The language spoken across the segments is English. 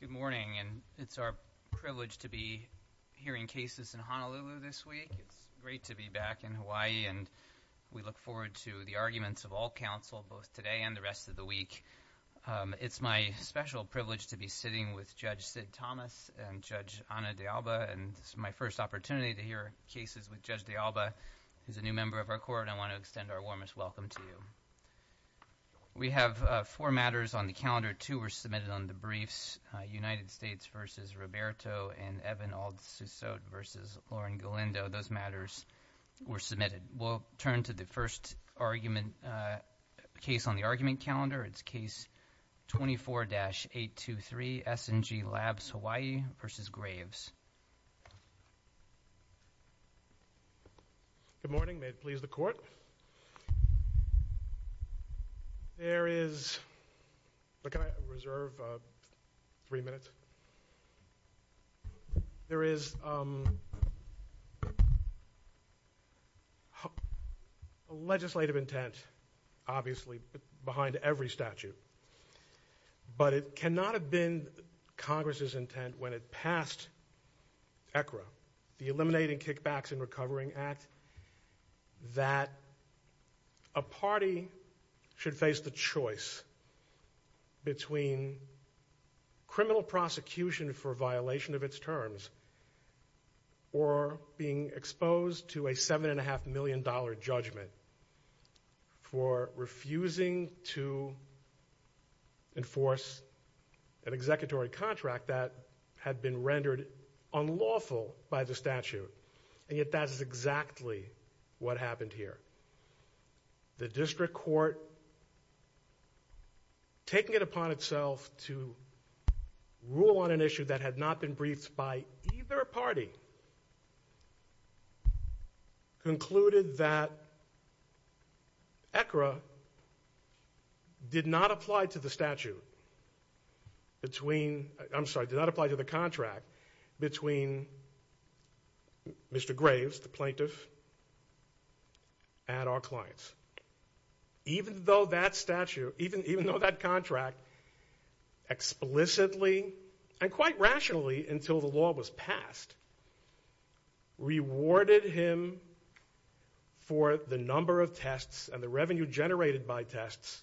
Good morning. It's our privilege to be hearing cases in Honolulu this week. It's great to be back in Hawaii, and we look forward to the arguments of all counsel both today and the rest of the week. It's my special privilege to be sitting with Judge Sid Thomas and Judge Ana de Alba, and it's my first opportunity to hear cases with Judge de Alba, who's a new member of our court, and I want to extend our warmest welcome to you. We have four matters on the calendar. Two were submitted on the briefs, United States v. Roberto and Evan Aldsusot v. Lauren Galindo. Those matters were submitted. We'll turn to the first argument case on the argument calendar. It's Case 24-823, S&G Labs Hawaii v. Graves. Good morning. May it please the Court? There is a legislative intent, obviously, behind every statute, but it cannot have been Congress's intent when it passed ECRA, the Eliminating Kickbacks and Recovering Act, that a party should face the choice between criminal prosecution for violation of its terms or being exposed to a $7.5 million judgment for refusing to enforce an executory contract that had been rendered unlawful by the statute. And yet, that is exactly what happened here. The District Court, taking it upon itself to rule on an issue that had not been briefed by either party, concluded that ECRA did not apply to the statute between, I'm sorry, did not apply to the contract between Mr. Graves, the plaintiff, and our clients. Even though that statute, even though that contract explicitly and quite rationally until the law was passed, rewarded him for the number of tests and the revenue generated by tests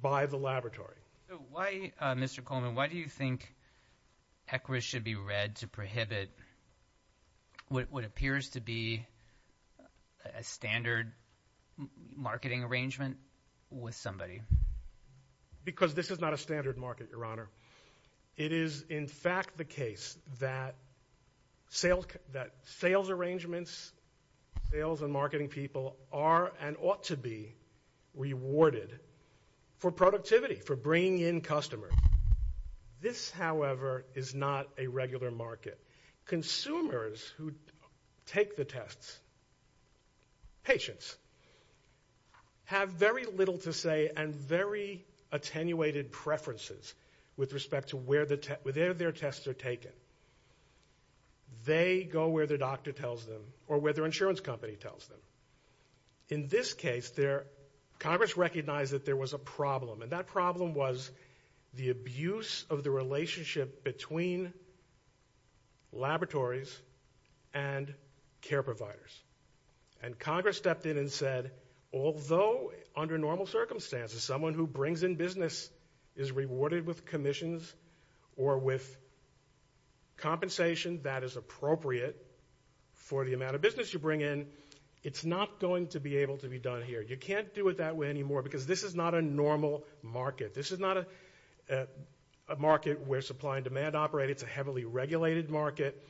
by the laboratory. Why, Mr. Coleman, why do you think ECRA should be read to prohibit what appears to be a standard marketing arrangement with somebody? Because this is not a standard market, Your Honor. It is, in fact, the case that sales arrangements, sales and marketing people are and ought to be rewarded for productivity, for bringing in customers. This, however, is not a regular market. Consumers who take the tests, patients, have very little to say and very attenuated preferences with respect to where their tests are taken. They go where their doctor tells them or where their insurance company tells them. In this case, Congress recognized that there was a problem, and that problem was the abuse of the relationship between laboratories and care providers. And Congress stepped in and said, although under normal circumstances someone who brings in business is rewarded with commissions or with compensation that is appropriate for the amount of business you bring in, it's not going to be able to be done here. You can't do it that way anymore because this is not a normal market. This is not a market where supply and demand operate. It's a heavily regulated market.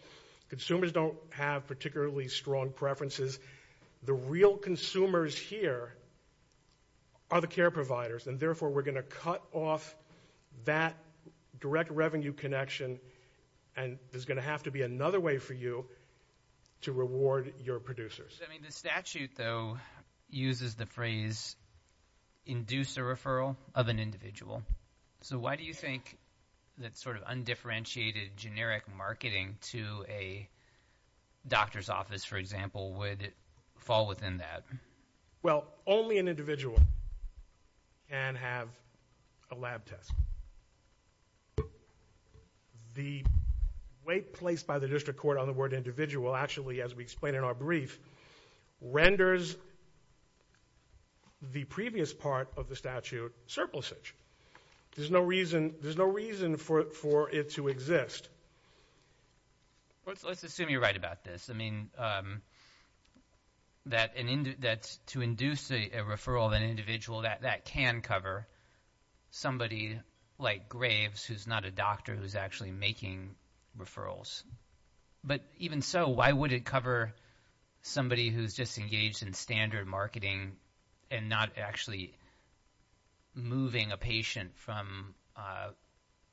Consumers don't have particularly strong preferences. The real consumers here are the care providers, and therefore we're going to cut off that direct revenue connection, and there's going to have to be another way for you to reward your producers. The statute, though, uses the phrase, induce a referral of an individual. So why do you think that sort of undifferentiated generic marketing to a doctor's office, for example, would fall within that? Well, only an individual can have a lab test. The way placed by the district court on the word individual actually, as we explain in our brief, renders the previous part of the statute surplusage. There's no reason for it to exist. Let's assume you're right about this. I mean, that to induce a referral of an individual, that can cover somebody like Graves, who's not a doctor, who's actually making referrals. But even so, why would it cover somebody who's just engaged in standard marketing and not actually moving a patient from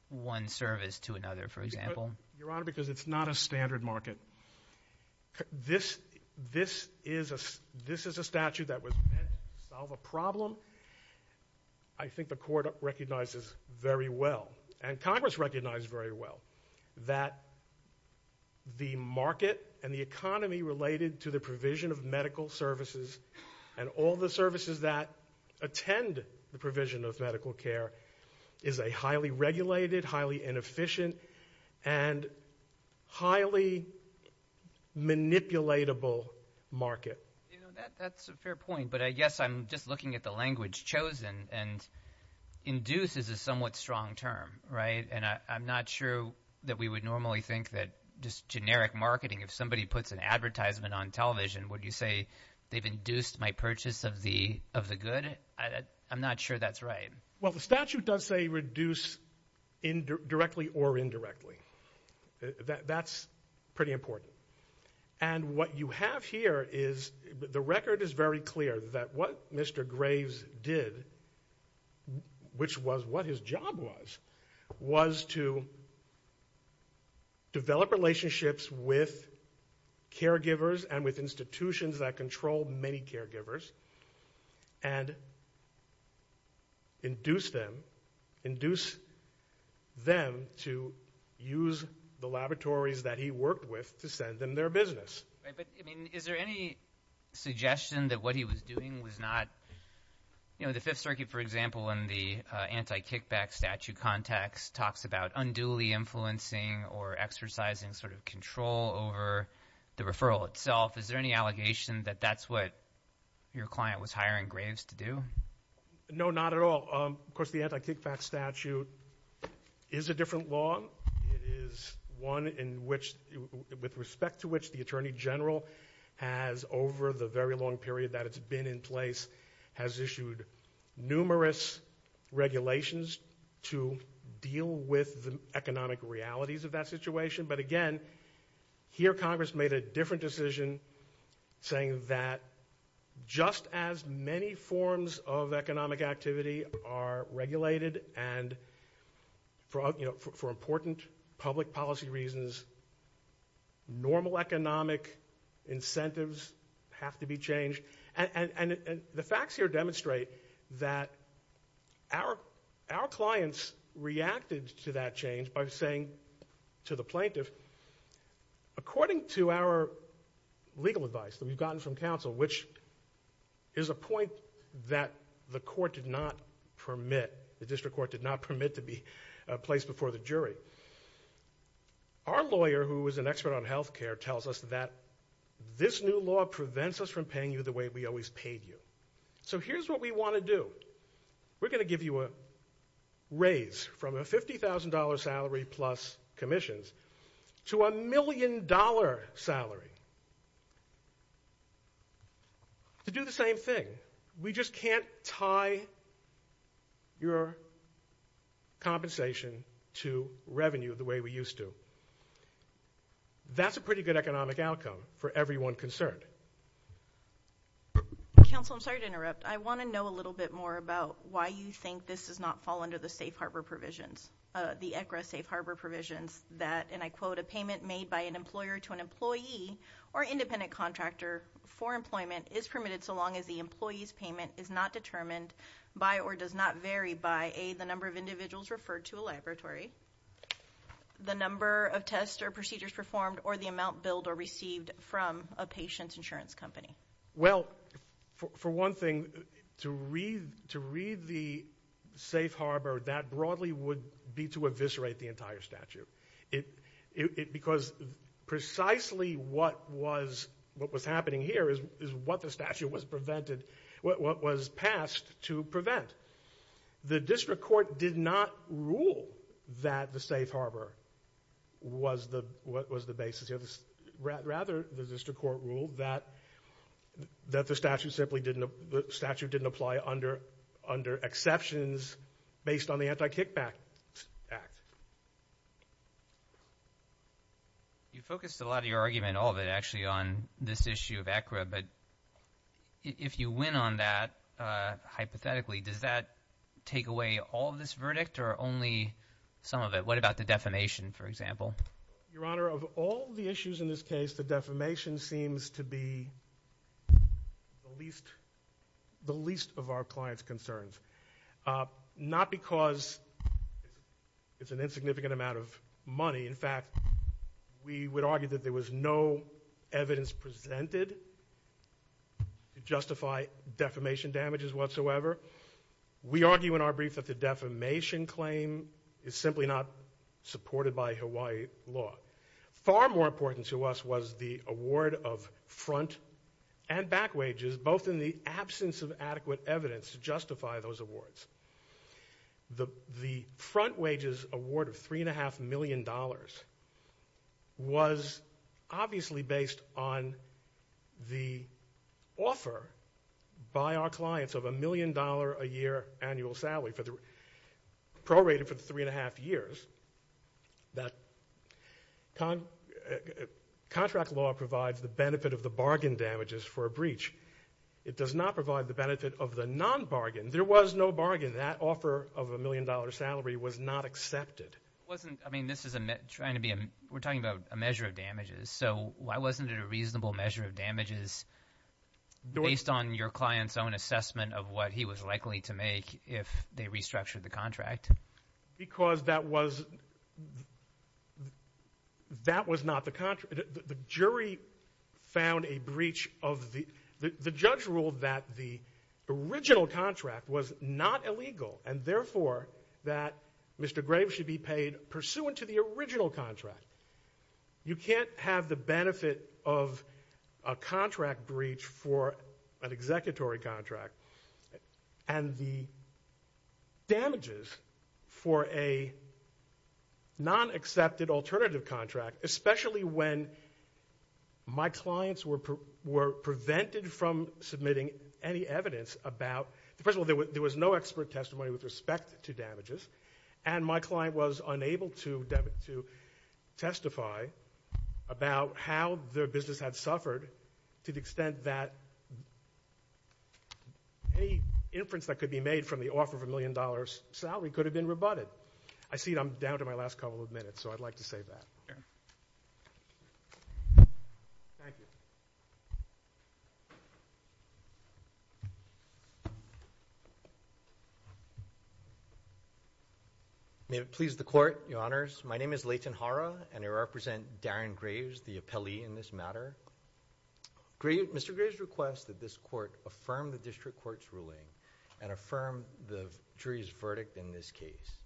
one service to another, for example? Your Honor, because it's not a standard market. This is a statute that was meant to solve a problem. I think the court recognizes very well, and Congress recognizes very well, that the market and the economy related to the provision of medical services and all the services that attend the provision of medical care is a highly regulated, highly inefficient, and highly manipulatable market. That's a fair point, but I guess I'm just looking at the language chosen, and induce is a somewhat strong term, right? And I'm not sure that we would normally think that just generic marketing, if somebody puts an advertisement on television, would you say they've induced my purchase of the good? I'm not sure that's right. Well, the statute does say reduce directly or indirectly. That's pretty important. And what you have here is, the record is very clear that what Mr. Graves did, which was what his job was, was to develop relationships with caregivers and with institutions that control many caregivers, and induce them to use the laboratories that he worked with to send them their business. But, I mean, is there any suggestion that what he was doing was not, you know, the Fifth Circuit, for example, in the anti-kickback statute context, talks about unduly influencing or exercising sort of control over the referral itself. Is there any allegation that that's what your client was hiring Graves to do? No, not at all. Of course, the anti-kickback statute is a different law. It is one in which, with respect to which the Attorney General has, over the very long period that it's been in place, has issued numerous regulations to deal with the economic realities of that situation. But again, here Congress made a different decision, saying that just as many forms of economic activity are regulated, and for important public policy reasons, normal economic incentives have to be changed. And the facts here demonstrate that our clients reacted to that change by saying to the plaintiff, According to our legal advice that we've gotten from counsel, which is a point that the court did not permit, the district court did not permit to be placed before the jury, our lawyer, who is an expert on health care, tells us that this new law prevents us from paying you the way we always paid you. So here's what we want to do. We're going to give you a raise from a $50,000 salary plus commissions to a $1 million salary to do the same thing. We just can't tie your compensation to revenue the way we used to. That's a pretty good economic outcome for everyone concerned. Counsel, I'm sorry to interrupt. I want to know a little bit more about why you think this does not fall under the safe harbor provisions, the ECRA safe harbor provisions. That, and I quote, a payment made by an employer to an employee or independent contractor for employment is permitted so long as the employee's payment is not determined by or does not vary by A, the number of individuals referred to a laboratory, the number of tests or procedures performed, or the amount billed or received from a patient's insurance company. Well, for one thing, to read the safe harbor, that broadly would be to eviscerate the entire statute. Because precisely what was happening here is what the statute was passed to prevent. The district court did not rule that the safe harbor was the basis. Rather, the district court ruled that the statute simply didn't apply under exceptions based on the anti-kickback act. You focused a lot of your argument, all of it, actually on this issue of ECRA. But if you win on that, hypothetically, does that take away all of this verdict or only some of it? What about the defamation, for example? Your Honor, of all the issues in this case, the defamation seems to be the least of our clients' concerns. Not because it's an insignificant amount of money. In fact, we would argue that there was no evidence presented to justify defamation damages whatsoever. We argue in our brief that the defamation claim is simply not supported by Hawaii law. Far more important to us was the award of front and back wages, both in the absence of adequate evidence to justify those awards. The front wages award of $3.5 million was obviously based on the offer by our clients of $1 million a year annual salary, prorated for the 3.5 years, that contract law provides the benefit of the bargain damages for a breach. It does not provide the benefit of the non-bargain. There was no bargain. That offer of a million-dollar salary was not accepted. I mean, we're talking about a measure of damages. So why wasn't it a reasonable measure of damages based on your client's own assessment of what he was likely to make if they restructured the contract? Because that was not the contract. The jury found a breach of the – the judge ruled that the original contract was not illegal and therefore that Mr. Graves should be paid pursuant to the original contract. You can't have the benefit of a contract breach for an executory contract and the damages for a non-accepted alternative contract, especially when my clients were prevented from submitting any evidence about – first of all, there was no expert testimony with respect to damages, and my client was unable to testify about how their business had suffered to the extent that any inference that could be made from the offer of a million-dollar salary could have been rebutted. I see I'm down to my last couple of minutes, so I'd like to save that. Thank you. May it please the Court, Your Honors. My name is Leighton Hara, and I represent Darren Graves, the appellee in this matter. Mr. Graves requests that this Court affirm the district court's ruling and affirm the jury's verdict in this case.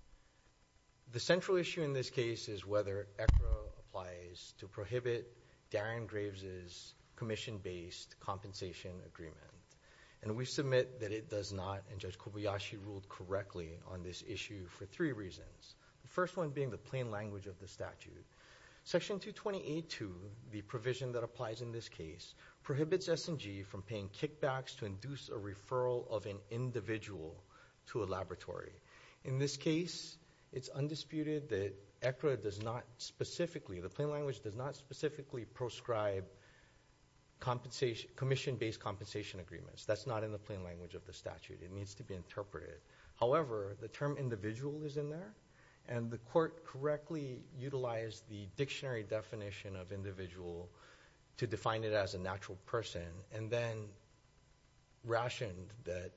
The central issue in this case is whether ECRA applies to prohibit Darren Graves' commission-based compensation agreement, and we submit that it does not, and Judge Kobayashi ruled correctly on this issue for three reasons, the first one being the plain language of the statute. Section 228.2, the provision that applies in this case, prohibits S&G from paying kickbacks to induce a referral of an individual to a laboratory. In this case, it's undisputed that ECRA does not specifically, the plain language does not specifically proscribe commission-based compensation agreements. That's not in the plain language of the statute. It needs to be interpreted. However, the term individual is in there, and the Court correctly utilized the dictionary definition of individual to define it as a natural person and then rationed that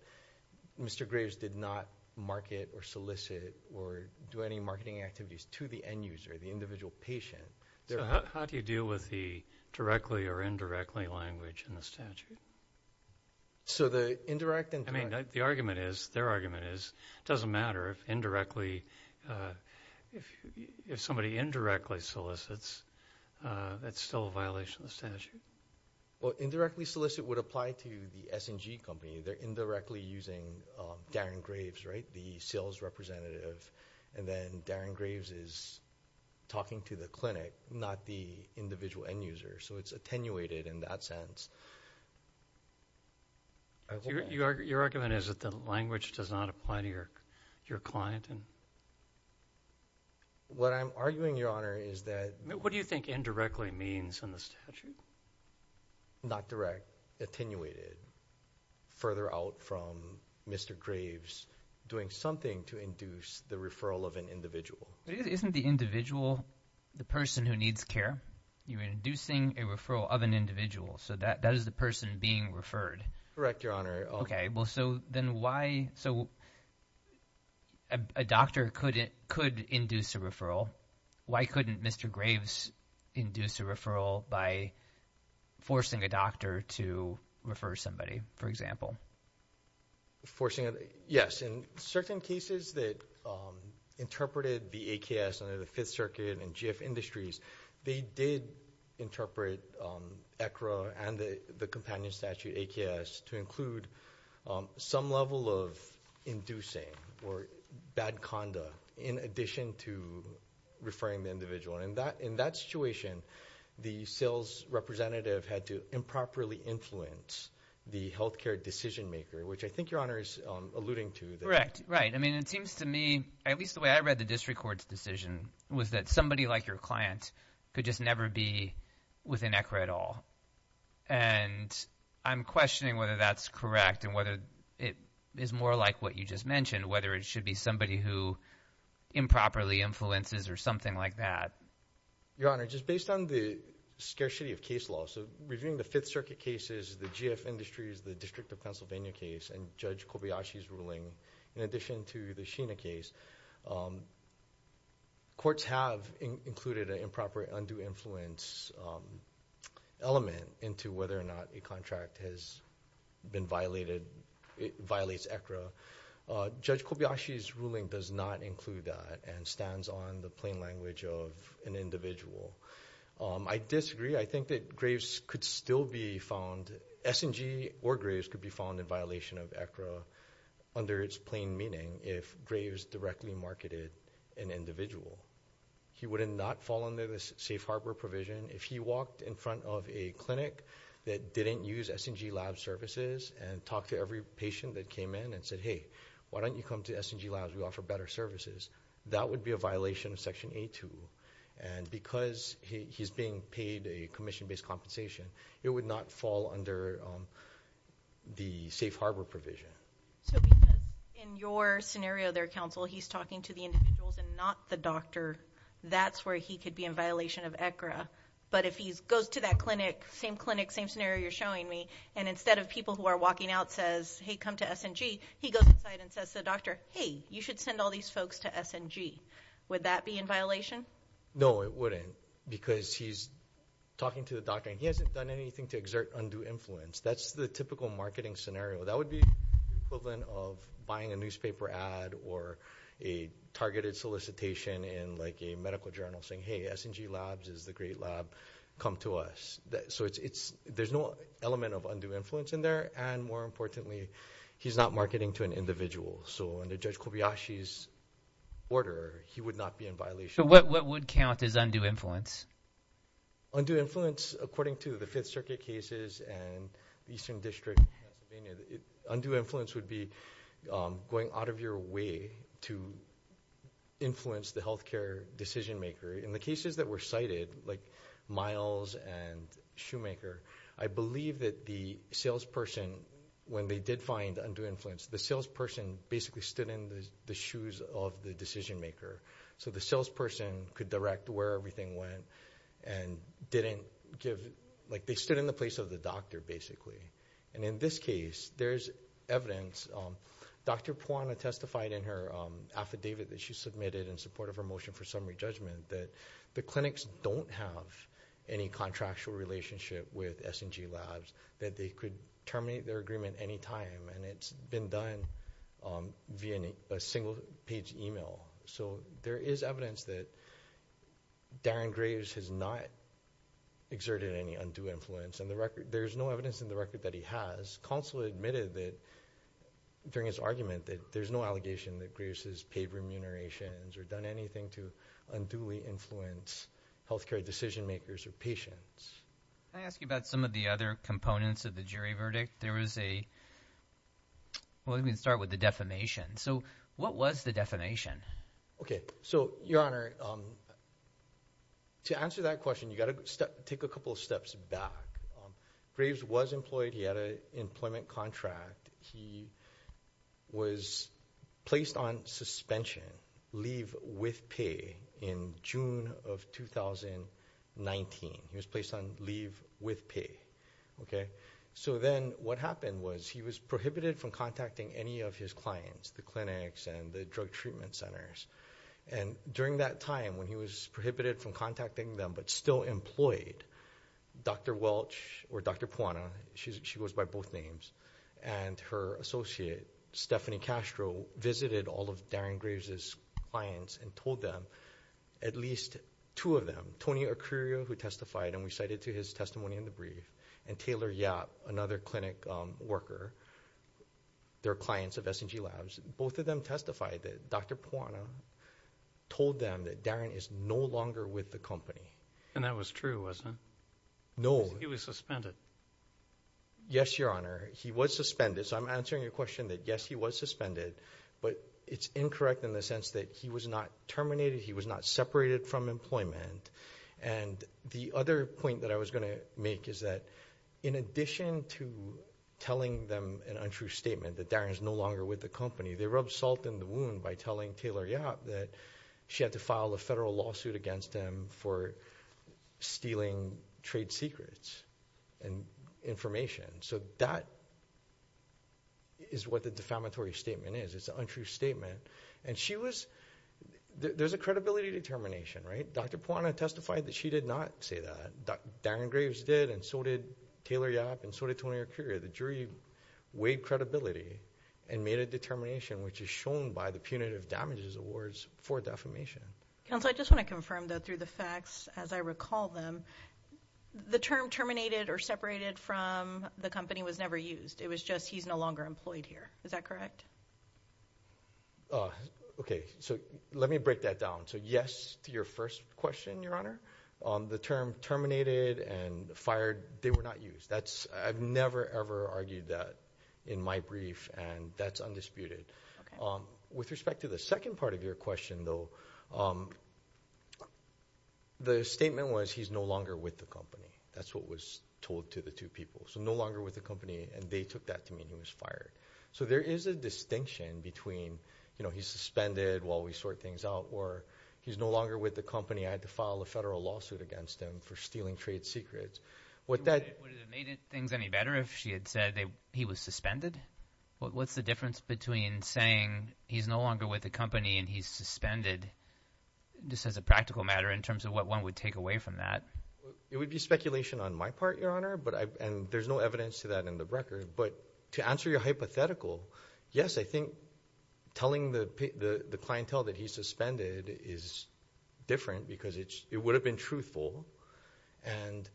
Mr. Graves did not market or solicit or do any marketing activities to the end user, the individual patient. So how do you deal with the directly or indirectly language in the statute? So the indirect and direct. I mean, the argument is, their argument is, it doesn't matter if indirectly, if somebody indirectly solicits, that's still a violation of the statute. Well, indirectly solicit would apply to the S&G company. They're indirectly using Darren Graves, right, the sales representative, and then Darren Graves is talking to the clinic, not the individual end user. So it's attenuated in that sense. Your argument is that the language does not apply to your client? What I'm arguing, Your Honor, is that— What do you think indirectly means in the statute? Not direct, attenuated, further out from Mr. Graves doing something to induce the referral of an individual. Isn't the individual the person who needs care? You're inducing a referral of an individual, so that is the person being referred. Correct, Your Honor. Okay, well, so then why—so a doctor could induce a referral. Why couldn't Mr. Graves induce a referral by forcing a doctor to refer somebody, for example? Forcing—yes, in certain cases that interpreted the AKS under the Fifth Circuit and GIF Industries, they did interpret ECRA and the companion statute, AKS, to include some level of inducing or bad conda in addition to referring the individual. In that situation, the sales representative had to improperly influence the health care decision maker, which I think Your Honor is alluding to. Correct, right. I mean, it seems to me, at least the way I read the district court's decision, was that somebody like your client could just never be within ECRA at all. And I'm questioning whether that's correct and whether it is more like what you just mentioned, whether it should be somebody who improperly influences or something like that. Your Honor, just based on the scarcity of case law, so reviewing the Fifth Circuit cases, the GIF Industries, the District of Pennsylvania case, and Judge Kobayashi's ruling, in addition to the Sheena case, courts have included an improper undue influence element into whether or not a contract has been violated, violates ECRA. Judge Kobayashi's ruling does not include that and stands on the plain language of an individual. I disagree. I think that Graves could still be found, S&G or Graves could be found in violation of ECRA under its plain meaning if Graves directly marketed an individual. He would have not fallen under the safe harbor provision if he walked in front of a clinic that didn't use S&G lab services and talked to every patient that came in and said, hey, why don't you come to S&G labs, we offer better services. That would be a violation of Section A2. And because he's being paid a commission-based compensation, it would not fall under the safe harbor provision. So because in your scenario there, Counsel, he's talking to the individuals and not the doctor, that's where he could be in violation of ECRA. But if he goes to that clinic, same clinic, same scenario you're showing me, and instead of people who are walking out says, hey, come to S&G, he goes inside and says to the doctor, hey, you should send all these folks to S&G. Would that be in violation? No, it wouldn't because he's talking to the doctor, and he hasn't done anything to exert undue influence. That's the typical marketing scenario. That would be the equivalent of buying a newspaper ad or a targeted solicitation in, like, a medical journal saying, hey, S&G labs is the great lab, come to us. So there's no element of undue influence in there, and more importantly, he's not marketing to an individual. So under Judge Kobayashi's order, he would not be in violation. So what would count as undue influence? Undue influence, according to the Fifth Circuit cases and the Eastern District, undue influence would be going out of your way to influence the health care decision maker. In the cases that were cited, like Miles and Shoemaker, I believe that the salesperson, when they did find undue influence, the salesperson basically stood in the shoes of the decision maker. So the salesperson could direct where everything went and didn't give, like, they stood in the place of the doctor, basically. And in this case, there's evidence. Dr. Puana testified in her affidavit that she submitted in support of her motion for summary judgment that the clinics don't have any contractual relationship with S&G labs, that they could terminate their agreement any time, and it's been done via a single-page email. So there is evidence that Darren Graves has not exerted any undue influence. There's no evidence in the record that he has. Counsel admitted that, during his argument, that there's no allegation that Graves has paid remunerations or done anything to unduly influence health care decision makers or patients. Can I ask you about some of the other components of the jury verdict? There was a—well, let me start with the defamation. So what was the defamation? Okay. So, Your Honor, to answer that question, you've got to take a couple of steps back. Graves was employed. He had an employment contract. He was placed on suspension, leave with pay, in June of 2019. He was placed on leave with pay. Okay? So then what happened was he was prohibited from contacting any of his clients, the clinics and the drug treatment centers. And during that time, when he was prohibited from contacting them but still employed, Dr. Welch, or Dr. Puana, she goes by both names, and her associate, Stephanie Castro, visited all of Darren Graves' clients and told them, at least two of them, Tony Acurio, who testified and we cited to his testimony in the brief, and Taylor Yap, another clinic worker, their clients of S&G Labs, both of them testified that Dr. Puana told them that Darren is no longer with the company. And that was true, wasn't it? No. Because he was suspended. Yes, Your Honor. He was suspended. So I'm answering your question that, yes, he was suspended, but it's incorrect in the sense that he was not terminated, he was not separated from employment. And the other point that I was going to make is that, in addition to telling them an untrue statement that Darren is no longer with the company, they rubbed salt in the wound by telling Taylor Yap that she had to file a federal lawsuit against him for stealing trade secrets and information. So that is what the defamatory statement is. It's an untrue statement. And she was – there's a credibility determination, right? Dr. Puana testified that she did not say that. Darren Graves did and so did Taylor Yap and so did Tony Acurio. The jury weighed credibility and made a determination, which is shown by the punitive damages awards for defamation. Counsel, I just want to confirm that through the facts, as I recall them, the term terminated or separated from the company was never used. It was just he's no longer employed here. Is that correct? Okay. So let me break that down. So yes to your first question, Your Honor. The term terminated and fired, they were not used. I've never, ever argued that in my brief, and that's undisputed. With respect to the second part of your question, though, the statement was he's no longer with the company. That's what was told to the two people. So no longer with the company, and they took that to mean he was fired. So there is a distinction between he's suspended while we sort things out or he's no longer with the company. I had to file a federal lawsuit against him for stealing trade secrets. Would it have made things any better if she had said he was suspended? What's the difference between saying he's no longer with the company and he's suspended just as a practical matter in terms of what one would take away from that? It would be speculation on my part, Your Honor. And there's no evidence to that in the record. But to answer your hypothetical, yes, I think telling the clientele that he's suspended is different because it would have been truthful, and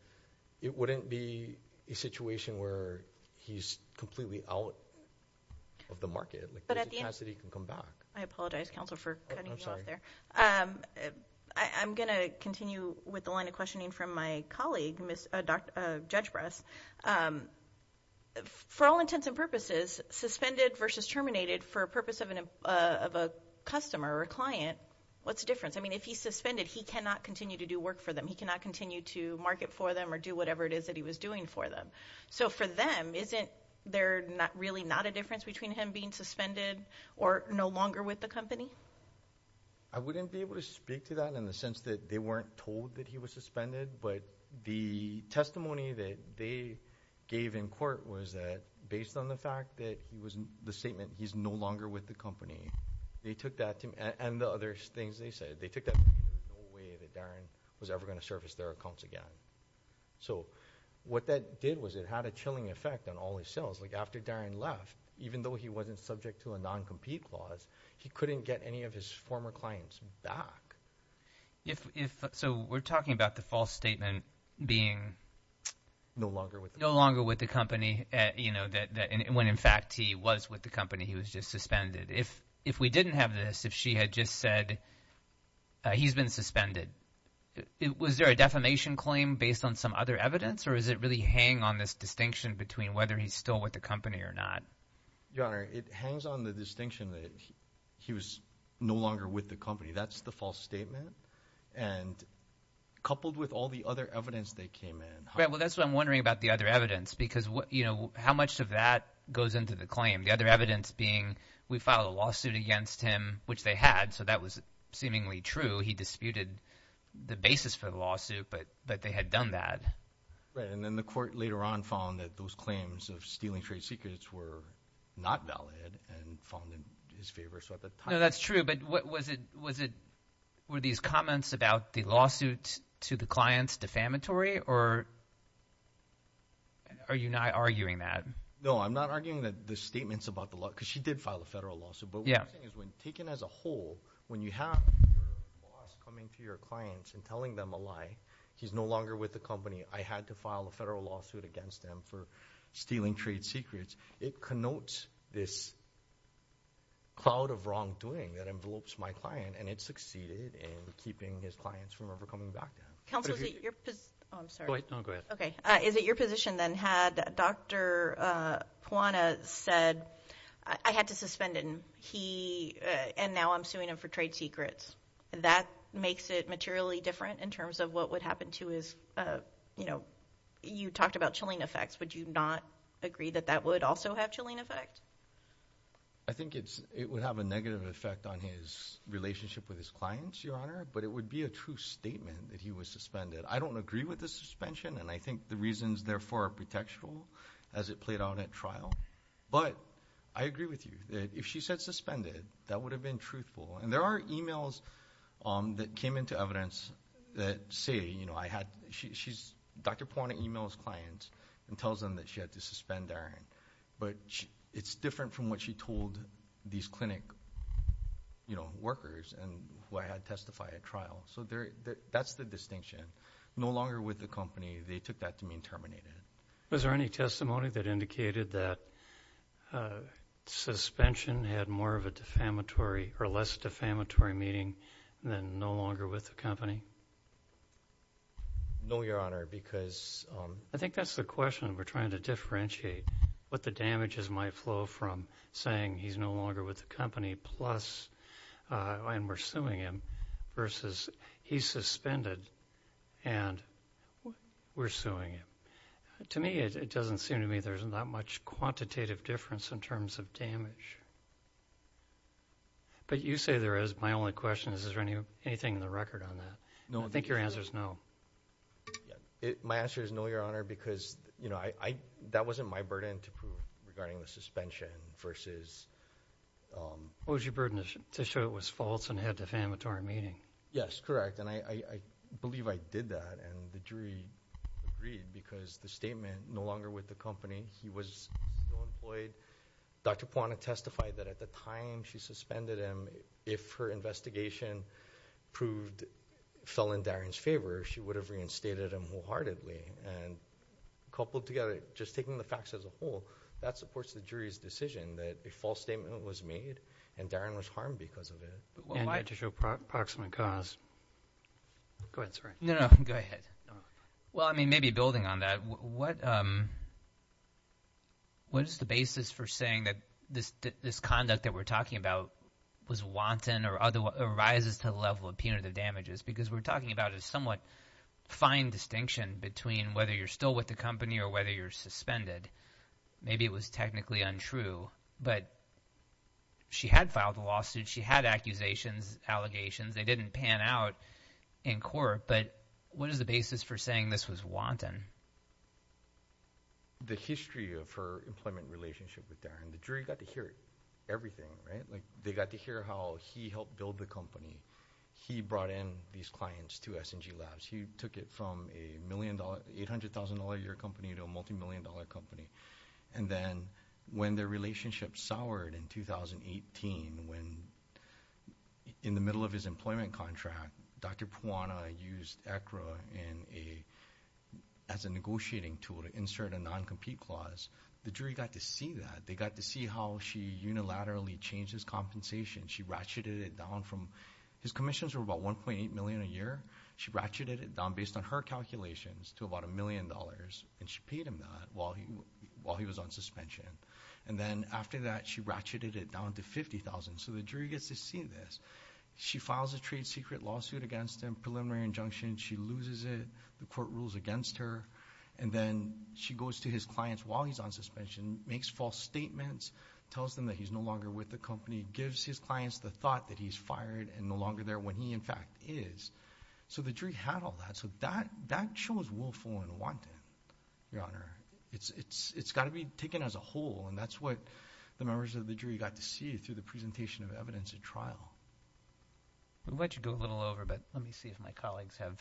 it wouldn't be a situation where he's completely out of the market. There's a chance that he can come back. I apologize, counsel, for cutting you off there. I'm going to continue with the line of questioning from my colleague, Judge Bress. For all intents and purposes, suspended versus terminated, for a purpose of a customer or a client, what's the difference? I mean, if he's suspended, he cannot continue to do work for them. He cannot continue to market for them or do whatever it is that he was doing for them. So for them, isn't there really not a difference between him being suspended or no longer with the company? I wouldn't be able to speak to that in the sense that they weren't told that he was suspended, but the testimony that they gave in court was that, based on the fact that the statement, he's no longer with the company, they took that to me, and the other things they said, they took that because there was no way that Darren was ever going to service their accounts again. So what that did was it had a chilling effect on all his sales. Like after Darren left, even though he wasn't subject to a non-compete clause, he couldn't get any of his former clients back. So we're talking about the false statement being no longer with the company, when in fact he was with the company, he was just suspended. If we didn't have this, if she had just said he's been suspended, was there a defamation claim based on some other evidence or does it really hang on this distinction between whether he's still with the company or not? Your Honor, it hangs on the distinction that he was no longer with the company. That's the false statement, and coupled with all the other evidence they came in. Well, that's what I'm wondering about the other evidence because how much of that goes into the claim? The other evidence being we filed a lawsuit against him, which they had, so that was seemingly true. He disputed the basis for the lawsuit, but they had done that. Right, and then the court later on found that those claims of stealing trade secrets were not valid and found in his favor. So at the time – No, that's true, but was it – were these comments about the lawsuit to the clients defamatory or are you not arguing that? No, I'm not arguing that the statements about the – because she did file a federal lawsuit. But what I'm saying is when taken as a whole, when you have your boss coming to your clients and telling them a lie, he's no longer with the company, I had to file a federal lawsuit against him for stealing trade secrets, it connotes this cloud of wrongdoing that envelopes my client, and it succeeded in keeping his clients from ever coming back to him. Counsel, is it your – oh, I'm sorry. Go ahead. Okay, is it your position then had Dr. Puana said I had to suspend him and now I'm suing him for trade secrets, that makes it materially different in terms of what would happen to his – you talked about chilling effects. Would you not agree that that would also have a chilling effect? I think it would have a negative effect on his relationship with his clients, Your Honor, but it would be a true statement that he was suspended. I don't agree with the suspension, and I think the reasons, therefore, are contextual as it played out at trial, but I agree with you that if she said suspended, that would have been truthful. And there are emails that came into evidence that say, you know, I had – she's – Dr. Puana emails clients and tells them that she had to suspend Aaron, but it's different from what she told these clinic, you know, workers and who I had testify at trial. So that's the distinction. No longer with the company, they took that to mean terminated. Was there any testimony that indicated that suspension had more of a defamatory or less defamatory meaning than no longer with the company? No, Your Honor, because – I think that's the question. We're trying to differentiate what the damages might flow from saying he's no longer with the company plus and we're suing him versus he's suspended and we're suing him. To me, it doesn't seem to me there's that much quantitative difference in terms of damage. But you say there is. My only question is, is there anything in the record on that? I think your answer is no. My answer is no, Your Honor, because, you know, I – that wasn't my burden to prove regarding the suspension versus – It was your burden to show it was false and had defamatory meaning. Yes, correct. And I believe I did that and the jury agreed because the statement, no longer with the company, he was still employed. Dr. Puana testified that at the time she suspended him, if her investigation proved – fell in Darren's favor, she would have reinstated him wholeheartedly. And coupled together, just taking the facts as a whole, that supports the jury's decision that a false statement was made and Darren was harmed because of it. And you had to show proximate cause. Go ahead, sir. No, no, go ahead. Well, I mean maybe building on that, what is the basis for saying that this conduct that we're talking about was wanton or rises to the level of punitive damages? Because we're talking about a somewhat fine distinction between whether you're still with the company or whether you're suspended. Maybe it was technically untrue, but she had filed a lawsuit. She had accusations, allegations. They didn't pan out in court, but what is the basis for saying this was wanton? The history of her employment relationship with Darren, the jury got to hear everything, right? They got to hear how he helped build the company. He brought in these clients to S&G Labs. He took it from a $800,000-a-year company to a multimillion-dollar company. And then when their relationship soured in 2018, when in the middle of his employment contract, Dr. Puana used ECRA as a negotiating tool to insert a non-compete clause. The jury got to see that. They got to see how she unilaterally changed his compensation. She ratcheted it down from his commissions were about $1.8 million a year. She ratcheted it down based on her calculations to about $1 million, and she paid him that while he was on suspension. And then after that, she ratcheted it down to $50,000. So the jury gets to see this. She files a trade secret lawsuit against him, preliminary injunction. She loses it. The court rules against her. And then she goes to his clients while he's on suspension, makes false statements, tells them that he's no longer with the company, gives his clients the thought that he's fired and no longer there when he, in fact, is. So the jury had all that. So that shows willful and wanton, Your Honor. It's got to be taken as a whole, and that's what the members of the jury got to see through the presentation of evidence at trial. We'll let you go a little over, but let me see if my colleagues have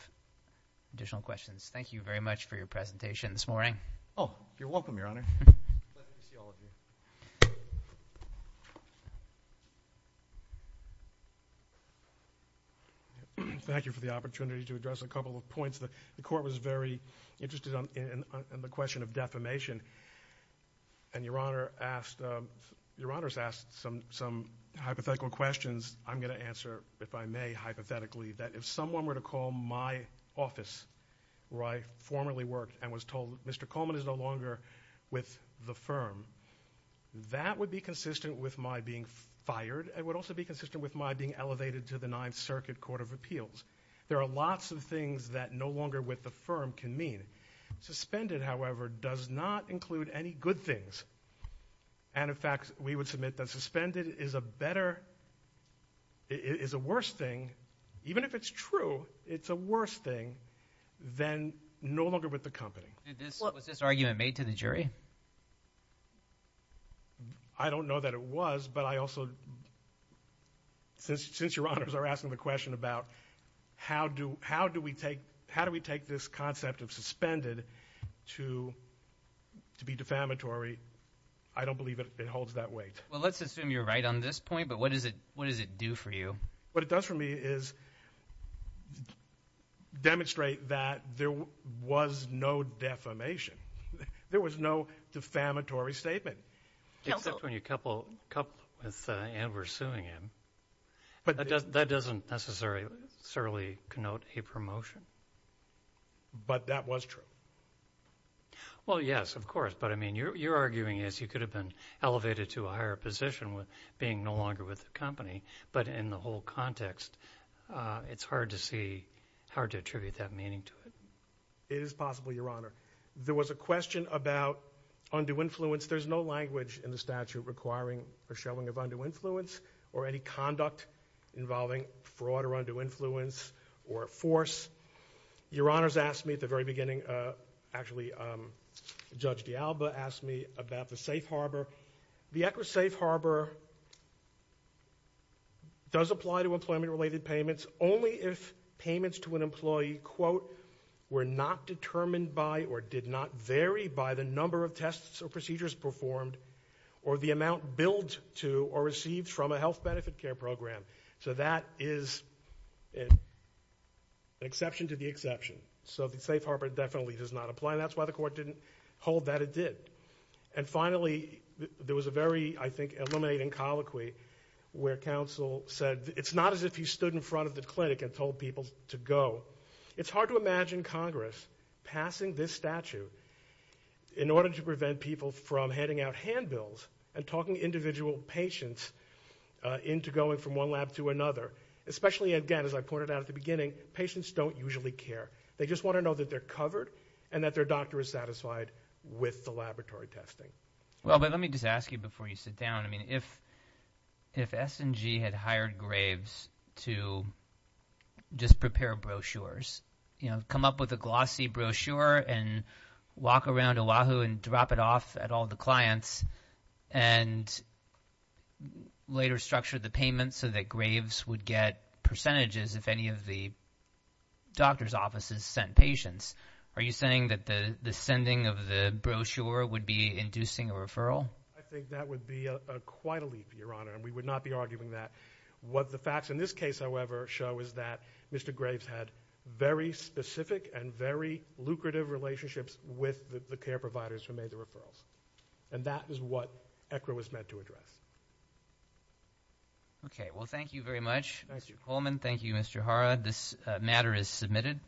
additional questions. Thank you very much for your presentation this morning. Oh, you're welcome, Your Honor. Pleasure to see all of you. Thank you for the opportunity to address a couple of points. The court was very interested in the question of defamation, and Your Honor has asked some hypothetical questions I'm going to answer, if I may, hypothetically, that if someone were to call my office where I formerly worked and was told Mr. Coleman is no longer with the firm, that would be consistent with my being fired. It would also be consistent with my being elevated to the Ninth Circuit Court of Appeals. There are lots of things that no longer with the firm can mean. Suspended, however, does not include any good things. And, in fact, we would submit that suspended is a better, is a worse thing, even if it's true, it's a worse thing than no longer with the company. Was this argument made to the jury? I don't know that it was, but I also, since Your Honors are asking the question about how do we take this concept of suspended to be defamatory, I don't believe it holds that weight. Well, let's assume you're right on this point, but what does it do for you? What it does for me is demonstrate that there was no defamation. There was no defamatory statement. Except when you couple it with Ann were suing him. That doesn't necessarily connote a promotion. But that was true. Well, yes, of course. But, I mean, you're arguing as you could have been elevated to a higher position with being no longer with the company. But in the whole context, it's hard to see, hard to attribute that meaning to it. It is possible, Your Honor. There was a question about undue influence. There's no language in the statute requiring a showing of undue influence or any conduct involving fraud or undue influence or force. Your Honors asked me at the very beginning, actually Judge D'Alba asked me about the safe harbor. The accurate safe harbor does apply to employment-related payments only if payments to an employee, quote, were not determined by or did not vary by the number of tests or procedures performed or the amount billed to or received from a health benefit care program. So that is an exception to the exception. So the safe harbor definitely does not apply. That's why the court didn't hold that it did. And finally, there was a very, I think, illuminating colloquy where counsel said, it's not as if you stood in front of the clinic and told people to go. It's hard to imagine Congress passing this statute in order to prevent people from handing out handbills and talking individual patients into going from one lab to another, especially, again, as I pointed out at the beginning, patients don't usually care. They just want to know that they're covered and that their doctor is satisfied with the laboratory testing. Well, let me just ask you before you sit down. I mean, if S&G had hired Graves to just prepare brochures, come up with a glossy brochure and walk around Oahu and drop it off at all the clients and later structure the payments so that Graves would get percentages if any of the doctor's offices sent patients, are you saying that the sending of the brochure would be inducing a referral? I think that would be quite a leap, Your Honor, and we would not be arguing that. What the facts in this case, however, show is that Mr. Graves had very specific and very lucrative relationships with the care providers who made the referrals, and that is what ECRA was meant to address. Okay. Well, thank you very much, Mr. Coleman. Thank you, Mr. Hara. This matter is submitted.